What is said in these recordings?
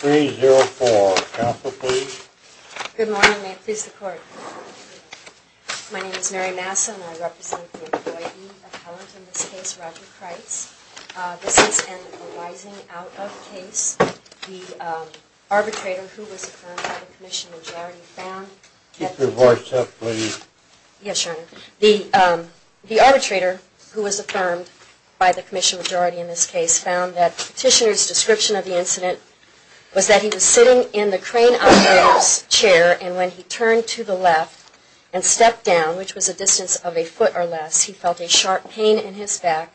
510-0304. Counsel, please. Good morning. May it please the Court. My name is Mary Massa, and I represent the employee appellant in this case, Roger Crites. This is an arising-out-of-case. The arbitrator, who was affirmed by the Commission in Jarrity, found... Keep your voice up, please. Yes, Your Honor. The arbitrator, who was affirmed by the Commission in Jarrity in this case, found that the petitioner's description of the incident was that he was sitting in the crane operator's chair, and when he turned to the left and stepped down, which was a distance of a foot or less, he felt a sharp pain in his back.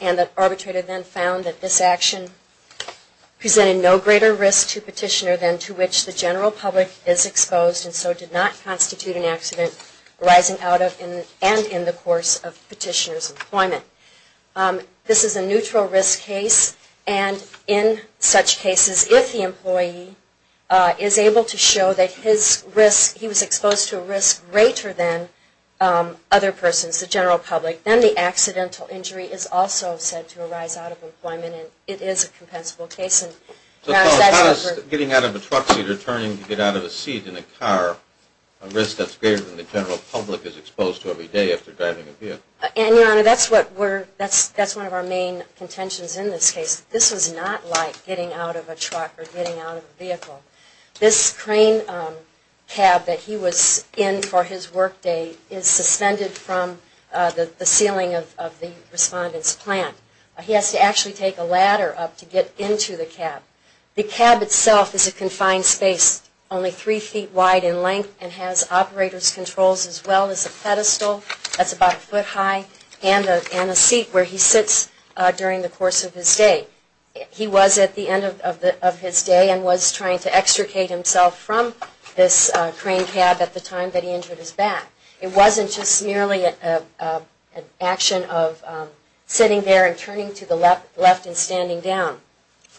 And the arbitrator then found that this action presented no greater risk to the petitioner than to which the general public is exposed, and so did not constitute an accident arising out of and in the course of the petitioner's employment. This is a neutral risk case, and in such cases, if the employee is able to show that his risk, he was exposed to a risk greater than other persons, the general public, then the accidental injury is also said to arise out of employment, and it is a compensable case. Getting out of a truck seat or turning to get out of a seat in a car, a risk that's greater than the general public is exposed to every day after driving a vehicle. And, Your Honor, that's one of our main contentions in this case. This was not like getting out of a truck or getting out of a vehicle. This crane cab that he was in for his workday is suspended from the ceiling of the respondent's plant. He has to actually take a ladder up to get into the cab. The cab itself is a confined space, only three feet wide in length, and has operators' controls as well as a pedestal that's about a foot high and a seat where he sits during the course of his day. He was at the end of his day and was trying to extricate himself from this crane cab at the time that he injured his back. It wasn't just merely an action of sitting there and turning to the left and standing down.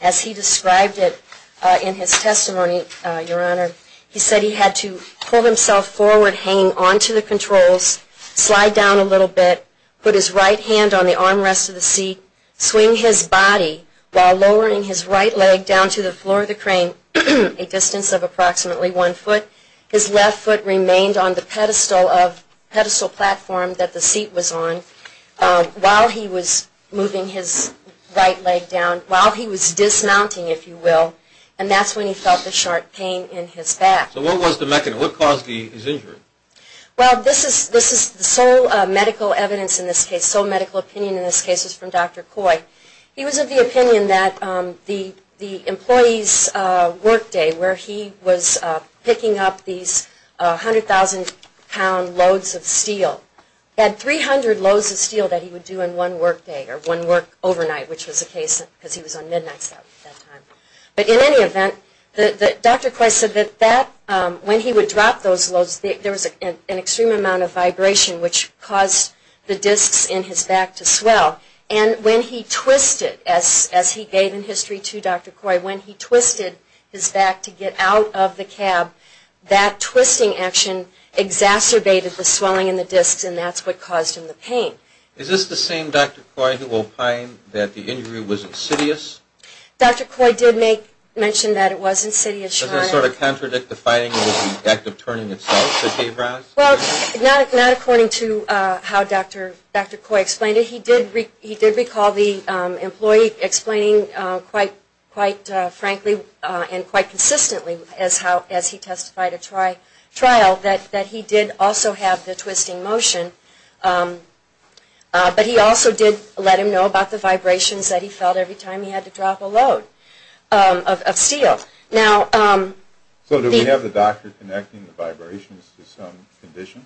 As he described it in his testimony, Your Honor, he said he had to pull himself forward, hang onto the controls, slide down a little bit, put his right hand on the armrest of the seat, swing his body while lowering his right leg down to the floor of the crane, a distance of approximately one foot. His left foot remained on the pedestal platform that the seat was on while he was moving his right leg down, while he was dismounting, if you will, and that's when he felt the sharp pain in his back. So what was the mechanism? What caused his injury? Well, this is the sole medical evidence in this case, sole medical opinion in this case is from Dr. Coy. He was of the opinion that the employee's workday, where he was picking up these 100,000 pound loads of steel, had 300 loads of steel that he would do in one workday or one work overnight, which was the case because he was on midnights at that time. But in any event, Dr. Coy said that when he would drop those loads, there was an extreme amount of vibration which caused the discs in his back to swell. And when he twisted, as he gave in history to Dr. Coy, when he twisted his back to get out of the cab, that twisting action exacerbated the swelling in the discs, and that's what caused him the pain. Is this the same Dr. Coy who opined that the injury was insidious? Dr. Coy did mention that it was insidious. Does that sort of contradict the finding that it was an act of turning itself that gave rise? Well, not according to how Dr. Coy explained it. But he did recall the employee explaining quite frankly and quite consistently as he testified at trial that he did also have the twisting motion. But he also did let him know about the vibrations that he felt every time he had to drop a load of steel. So did we have the doctor connecting the vibrations to some condition?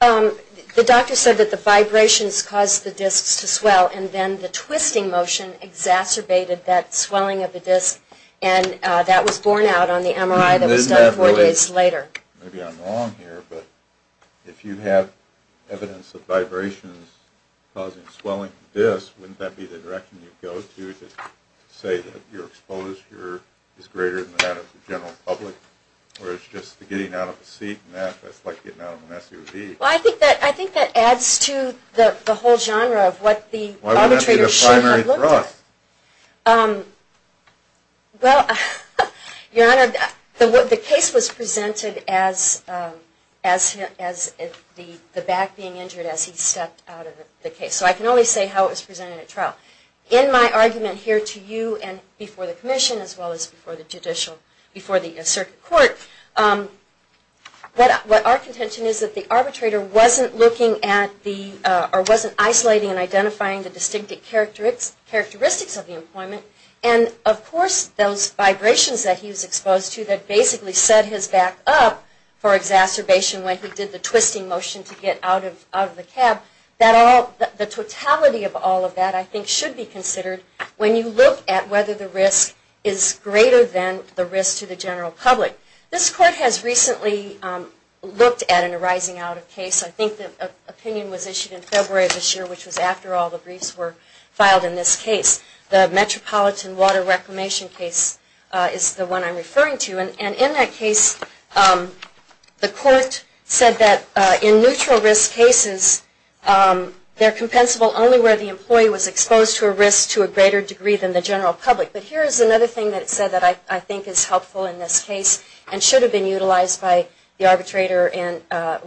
The doctor said that the vibrations caused the discs to swell, and then the twisting motion exacerbated that swelling of the discs, and that was borne out on the MRI that was done four days later. Maybe I'm wrong here, but if you have evidence of vibrations causing swelling of the discs, wouldn't that be the direction you'd go to to say that your exposure is greater than that of the general public? Where it's just the getting out of the seat and that, that's like getting out of an SUV. Well, I think that adds to the whole genre of what the arbitrator should have looked at. Why wouldn't that be the primary thrust? Well, Your Honor, the case was presented as the back being injured as he stepped out of the case. So I can only say how it was presented at trial. In my argument here to you and before the commission as well as before the judicial, before the circuit court, what our contention is that the arbitrator wasn't looking at the, or wasn't isolating and identifying the distinctive characteristics of the employment, and of course those vibrations that he was exposed to that basically set his back up for exacerbation when he did the twisting motion to get out of the cab, the totality of all of that I think should be considered when you look at whether the risk is greater than the risk to the general public. This court has recently looked at an arising out of case. I think the opinion was issued in February of this year, which was after all the briefs were filed in this case. The Metropolitan Water Reclamation case is the one I'm referring to. And in that case, the court said that in neutral risk cases, they're compensable only where the employee was exposed to a risk to a greater degree than the general public. But here is another thing that it said that I think is helpful in this case and should have been utilized by the arbitrator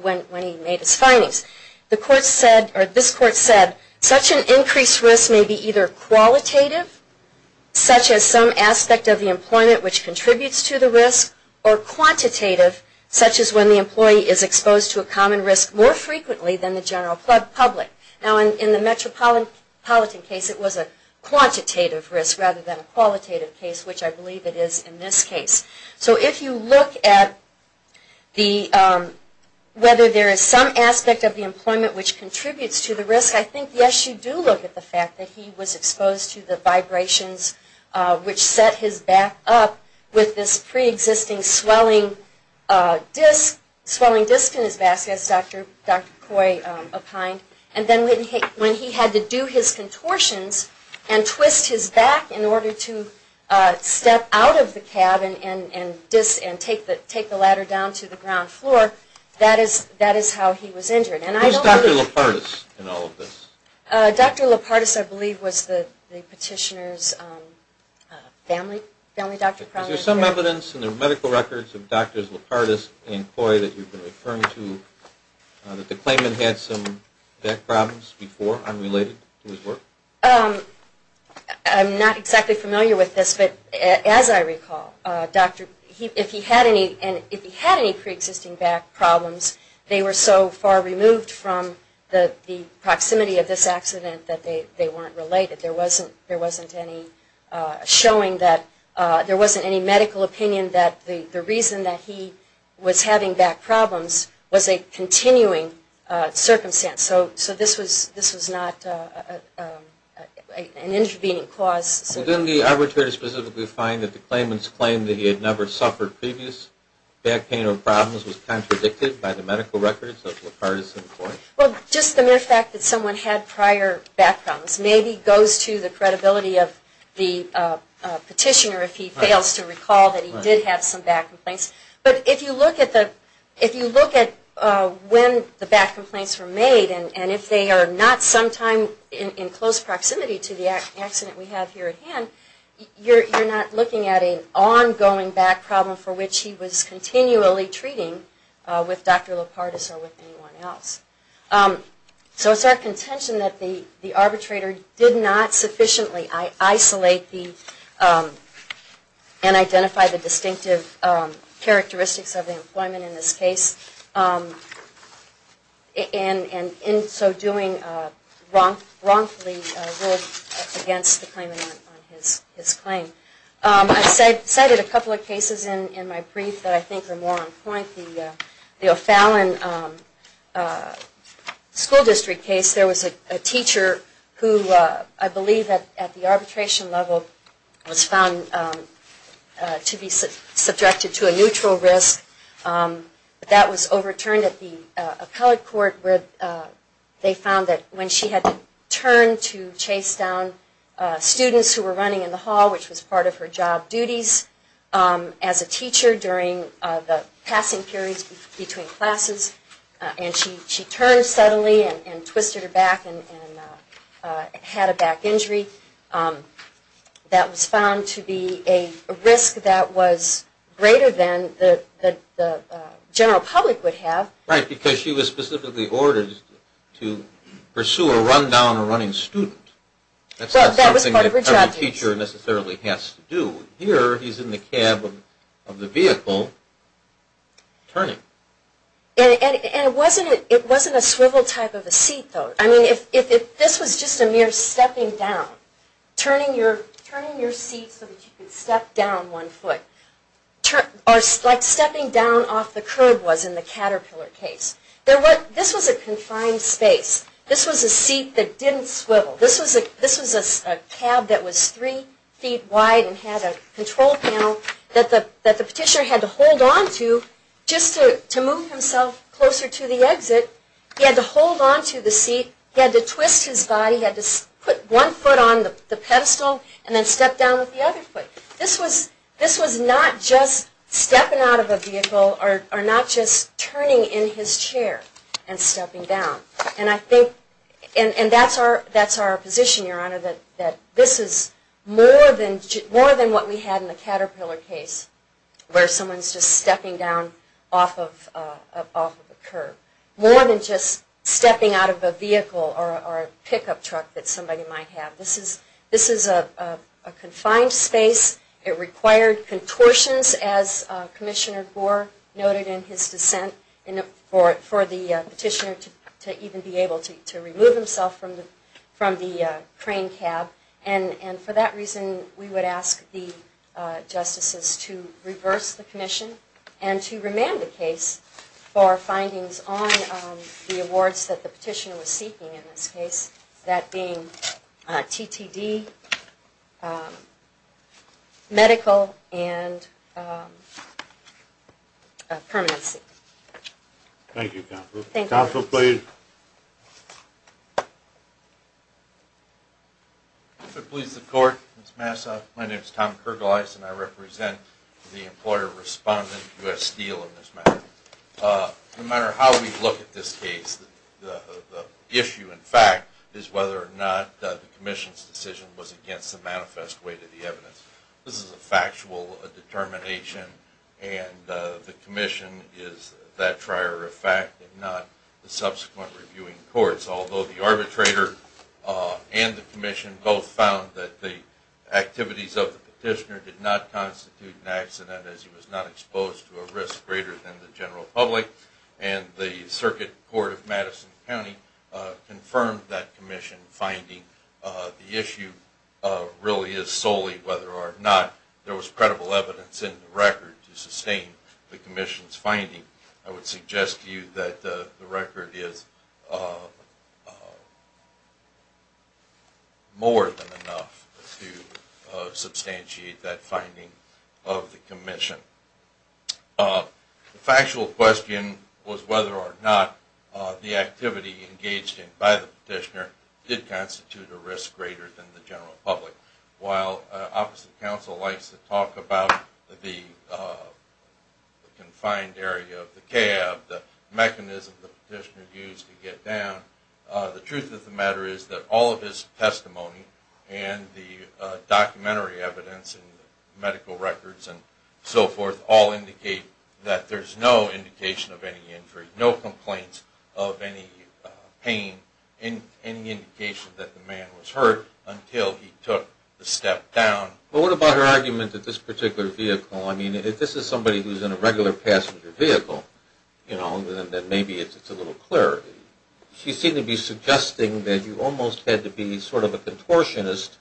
when he made his findings. The court said, or this court said, such an increased risk may be either qualitative, such as some aspect of the employment which contributes to the risk, or quantitative, such as when the employee is exposed to a common risk more frequently than the general public. Now in the Metropolitan case, it was a quantitative risk rather than a qualitative case, which I believe it is in this case. So if you look at whether there is some aspect of the employment which contributes to the risk, I think, yes, you do look at the fact that he was exposed to the vibrations which set his back up with this preexisting swelling disc, swelling disc in his back, as Dr. Coy opined. And then when he had to do his contortions and twist his back in order to step out of the cabin and take the ladder down to the ground floor, that is how he was injured. Who is Dr. Lopardis in all of this? Dr. Lopardis, I believe, was the petitioner's family doctor. Is there some evidence in the medical records of Drs. Lopardis and Coy that you've been referring to that the claimant had some back problems before unrelated to his work? I'm not exactly familiar with this, but as I recall, if he had any preexisting back problems, they were so far removed from the proximity of this accident that they weren't related. There wasn't any medical opinion that the reason that he was having back problems was a continuing circumstance. So this was not an intervening cause. Well, didn't the arbitrator specifically find that the claimant's claim that he had never suffered previous back pain or problems was contradicted by the medical records of Lopardis and Coy? Well, just the mere fact that someone had prior back problems maybe goes to the credibility of the petitioner if he fails to recall that he did have some back complaints. But if you look at when the back complaints were made and if they are not sometime in close proximity to the accident we have here at hand, you're not looking at an ongoing back problem for which he was continually treating with Dr. Lopardis or with anyone else. So it's our contention that the arbitrator did not sufficiently isolate and identify the distinctive characteristics of the employment in this case and in so doing wrongfully ruled against the claimant on his claim. I cited a couple of cases in my brief that I think are more on point. The O'Fallon school district case, there was a teacher who I believe at the arbitration level was found to be subjected to a neutral risk. That was overturned at the appellate court where they found that when she had to turn to chase down students who were running in the hall which was part of her job duties as a teacher during the passing periods between classes and she turned suddenly and twisted her back and had a back injury. That was found to be a risk that was greater than the general public would have. Right, because she was specifically ordered to pursue a run down a running student. That's not something that every teacher necessarily has to do. Here he's in the cab of the vehicle turning. It wasn't a swivel type of a seat though. This was just a mere stepping down. Turning your seat so that you could step down one foot. Like stepping down off the curb was in the Caterpillar case. This was a confined space. This was a seat that didn't swivel. This was a cab that was three feet wide and had a control panel that the petitioner had to hold onto just to move himself closer to the exit. He had to hold onto the seat. He had to twist his body. He had to put one foot on the pedestal and then step down with the other foot. This was not just stepping out of a vehicle or not just turning in his chair and stepping down. That's our position, Your Honor, that this is more than what we had in the Caterpillar case where someone's just stepping down off of a curb. More than just stepping out of a vehicle or a pickup truck that somebody might have. This is a confined space. It required contortions as Commissioner Gore noted in his dissent for the petitioner to even be able to remove himself from the crane cab. And for that reason, we would ask the justices to reverse the commission and to remand the case for findings on the awards that the petitioner was seeking in this case, that being TTD, medical, and permanency. Thank you, Counsel. Counsel, please. If it pleases the Court, Ms. Massa, my name is Tom Kergeleis, and I represent the employer respondent, U.S. Steel, in this matter. No matter how we look at this case, the issue, in fact, is whether or not the commission's decision was against the manifest way to the evidence. This is a factual determination, and the commission is that prior effect and not the subsequent reviewing courts, although the arbitrator and the commission both found that the activities of the petitioner did not constitute an accident as he was not exposed to a risk greater than the general public, and the Circuit Court of Madison County confirmed that commission finding. The issue really is solely whether or not there was credible evidence in the record to sustain the commission's finding. I would suggest to you that the record is more than enough to substantiate that finding of the commission. The factual question was whether or not the activity engaged in by the petitioner did constitute a risk greater than the general public. While opposite counsel likes to talk about the confined area of the cab, the mechanism the petitioner used to get down, the truth of the matter is that all of his testimony and the documentary evidence and medical records and so forth all indicate that there's no indication of any injury, no complaints of any pain, any indication that the man was hurt until he took the step down. Well, what about her argument that this particular vehicle, I mean, if this is somebody who's in a regular passenger vehicle, you know, then maybe it's a little clearer. She seemed to be suggesting that you almost had to be sort of a contortionist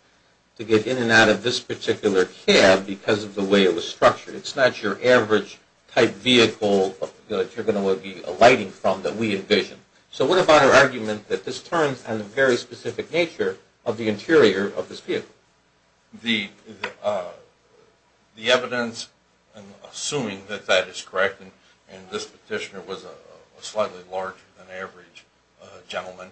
to get in and out of this particular cab because of the way it was structured. It's not your average type vehicle that you're going to be alighting from that we envision. So what about her argument that this turns on the very specific nature of the interior of this vehicle? The evidence, assuming that that is correct, and this petitioner was a slightly larger than average gentleman,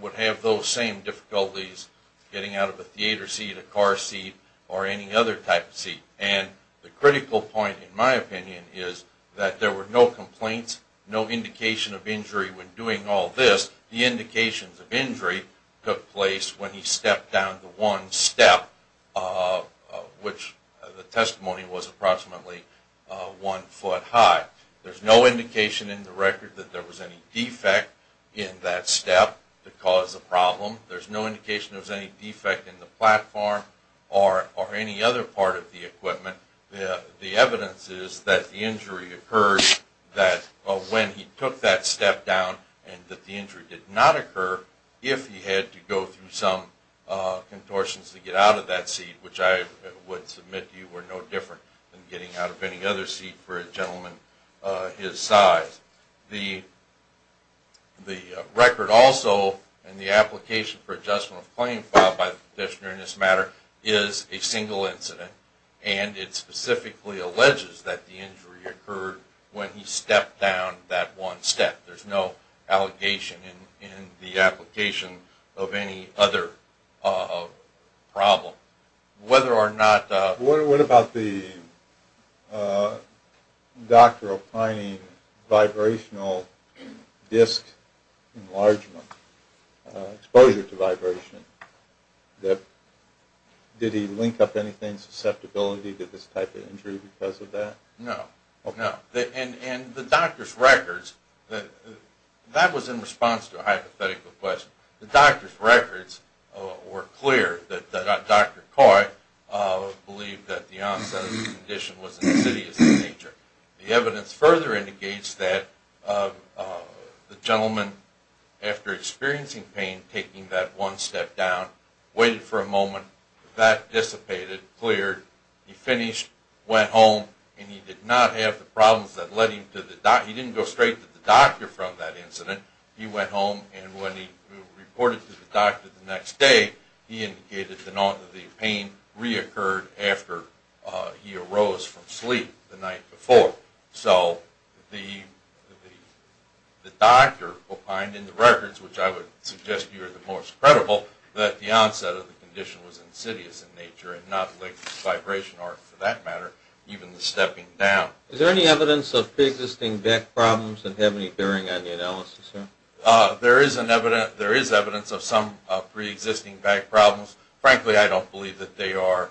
would have those same difficulties getting out of a theater seat, a car seat, or any other type of seat. And the critical point, in my opinion, is that there were no complaints, no indication of injury when doing all this. The indications of injury took place when he stepped down to one step, which the testimony was approximately one foot high. There's no indication in the record that there was any defect in that step that caused the problem. There's no indication there was any defect in the platform or any other part of the equipment. The evidence is that the injury occurred when he took that step down and that the injury did not occur if he had to go through some contortions to get out of that seat, which I would submit to you were no different than getting out of any other seat for a gentleman his size. The record also and the application for adjustment of claim filed by the petitioner in this matter is a single incident, and it specifically alleges that the injury occurred when he stepped down that one step. There's no allegation in the application of any other problem. What about the doctor applying vibrational disc enlargement, exposure to vibration? Did he link up anything, susceptibility to this type of injury because of that? No. And the doctor's records, that was in response to a hypothetical question. The doctor's records were clear that Dr. Coy believed that the onset of the condition was insidious in nature. The evidence further indicates that the gentleman, after experiencing pain, taking that one step down, waited for a moment, that dissipated, cleared, he finished, went home, and he did not have the problems that led him to the doctor. He didn't go straight to the doctor from that incident. He went home, and when he reported to the doctor the next day, he indicated that the pain reoccurred after he arose from sleep the night before. So the doctor opined in the records, which I would suggest to you are the most credible, that the onset of the condition was insidious in nature and not linked to vibration or, for that matter, even the stepping down. Is there any evidence of preexisting back problems that have any bearing on the analysis, sir? There is evidence of some preexisting back problems. Frankly, I don't believe that they are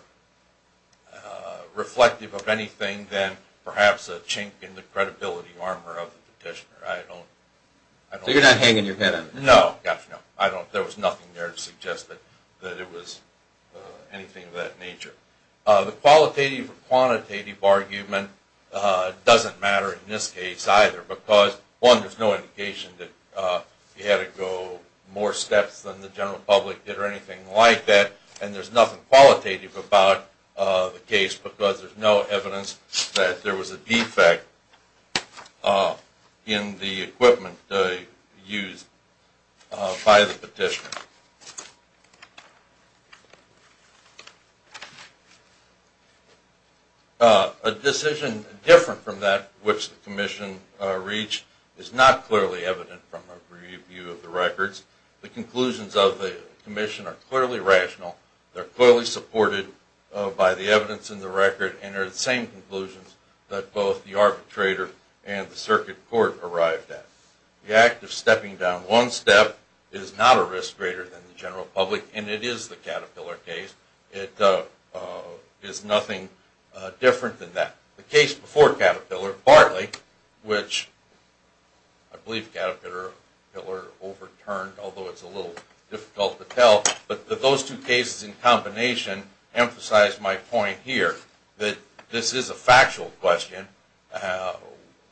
reflective of anything than perhaps a chink in the credibility armor of the petitioner. So you're not hanging your head on it? No. There was nothing there to suggest that it was anything of that nature. The qualitative or quantitative argument doesn't matter in this case either because, one, there's no indication that he had to go more steps than the general public did or anything like that, and there's nothing qualitative about the case because there's no evidence that there was a defect in the equipment used by the petitioner. A decision different from that which the Commission reached is not clearly evident from a review of the records. The conclusions of the Commission are clearly rational, they're clearly supported by the evidence in the record, and they're the same conclusions that both the arbitrator and the circuit court arrived at. The act of stepping down one step is not a risk greater than the general public, and it is the Caterpillar case. It is nothing different than that. The case before Caterpillar, partly, which I believe Caterpillar overturned, although it's a little difficult to tell, but those two cases in combination emphasize my point here that this is a factual question,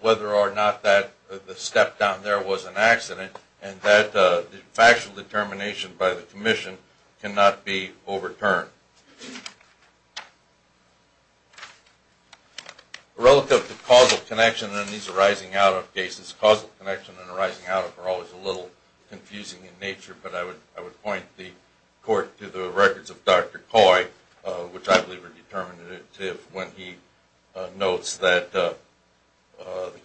whether or not the step down there was an accident, and that the factual determination by the Commission cannot be overturned. Relative to causal connection in these arising-out-of cases, causal connection and arising-out-of are always a little confusing in nature, but I would point the Court to the records of Dr. Coy, which I believe are determinative, when he notes that the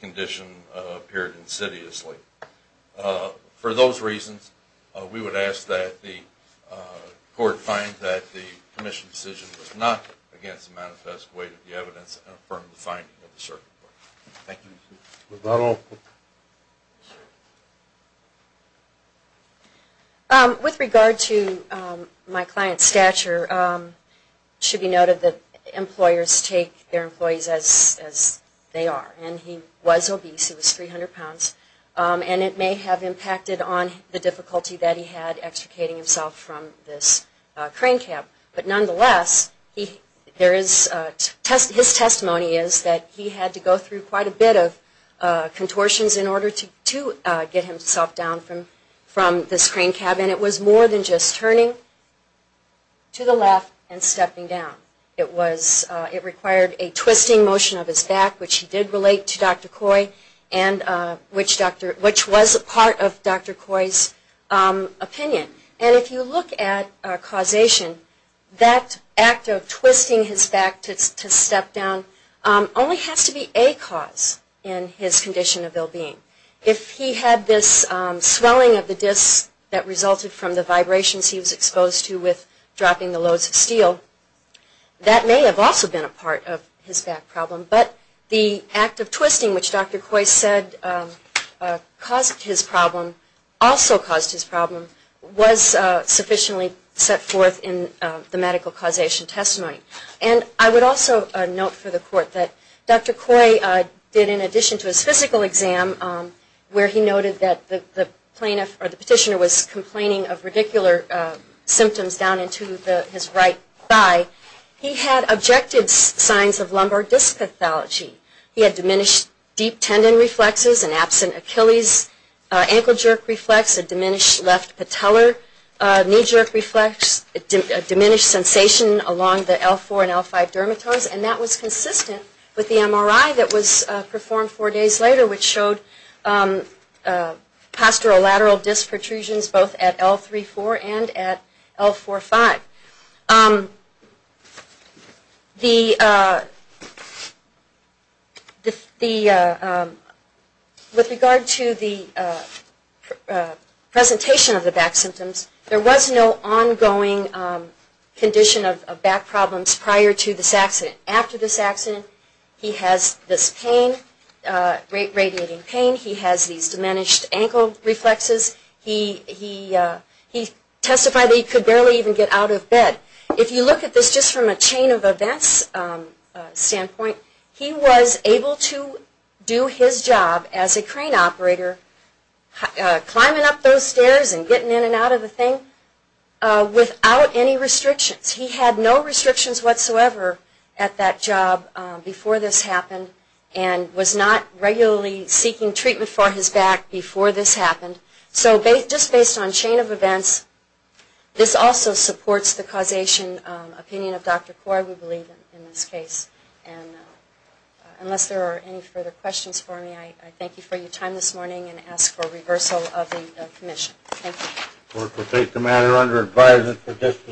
condition appeared insidiously. For those reasons, we would ask that the Court find that the Commission's decision was not against the manifest weight of the evidence and affirm the finding of the circuit court. Thank you. With regard to my client's stature, it should be noted that employers take their employees as they are, and he was obese, he was 300 pounds, and it may have impacted on the difficulty that he had extricating himself from this crane cab. But nonetheless, his testimony is that he had to go through quite a bit of contortions in order to get himself down from this crane cab, and it was more than just turning to the left and stepping down. It required a twisting motion of his back, which he did relate to Dr. Coy, and which was a part of Dr. Coy's opinion. And if you look at causation, that act of twisting his back to step down only has to be a cause in his condition of well-being. If he had this swelling of the discs that resulted from the vibrations he was exposed to with dropping the loads of steel, that may have also been a part of his back problem. But the act of twisting, which Dr. Coy said caused his problem, also caused his problem, was sufficiently set forth in the medical causation testimony. And I would also note for the court that Dr. Coy did, in addition to his physical exam, where he noted that the petitioner was complaining of radicular symptoms down into his right thigh, he had objective signs of lumbar disc pathology. He had diminished deep tendon reflexes, an absent Achilles, ankle jerk reflex, a diminished left patella, knee jerk reflex, diminished sensation along the L4 and L5 dermatomas, and that was consistent with the MRI that was performed four days later, which showed postural lateral disc protrusions both at L3-4 and at L4-5. With regard to the presentation of the back symptoms, there was no ongoing condition of back problems prior to this accident. After this accident, he has this pain, radiating pain. He has these diminished ankle reflexes. He testified that he could barely even get out of bed. If you look at this just from a chain of events standpoint, he was able to do his job as a crane operator, climbing up those stairs and getting in and out of the thing without any restrictions. He had no restrictions whatsoever at that job before this happened and was not regularly seeking treatment for his back before this happened. So just based on chain of events, this also supports the causation opinion of Dr. Kaur, we believe, in this case. And unless there are any further questions for me, I thank you for your time this morning and ask for reversal of the commission. Thank you.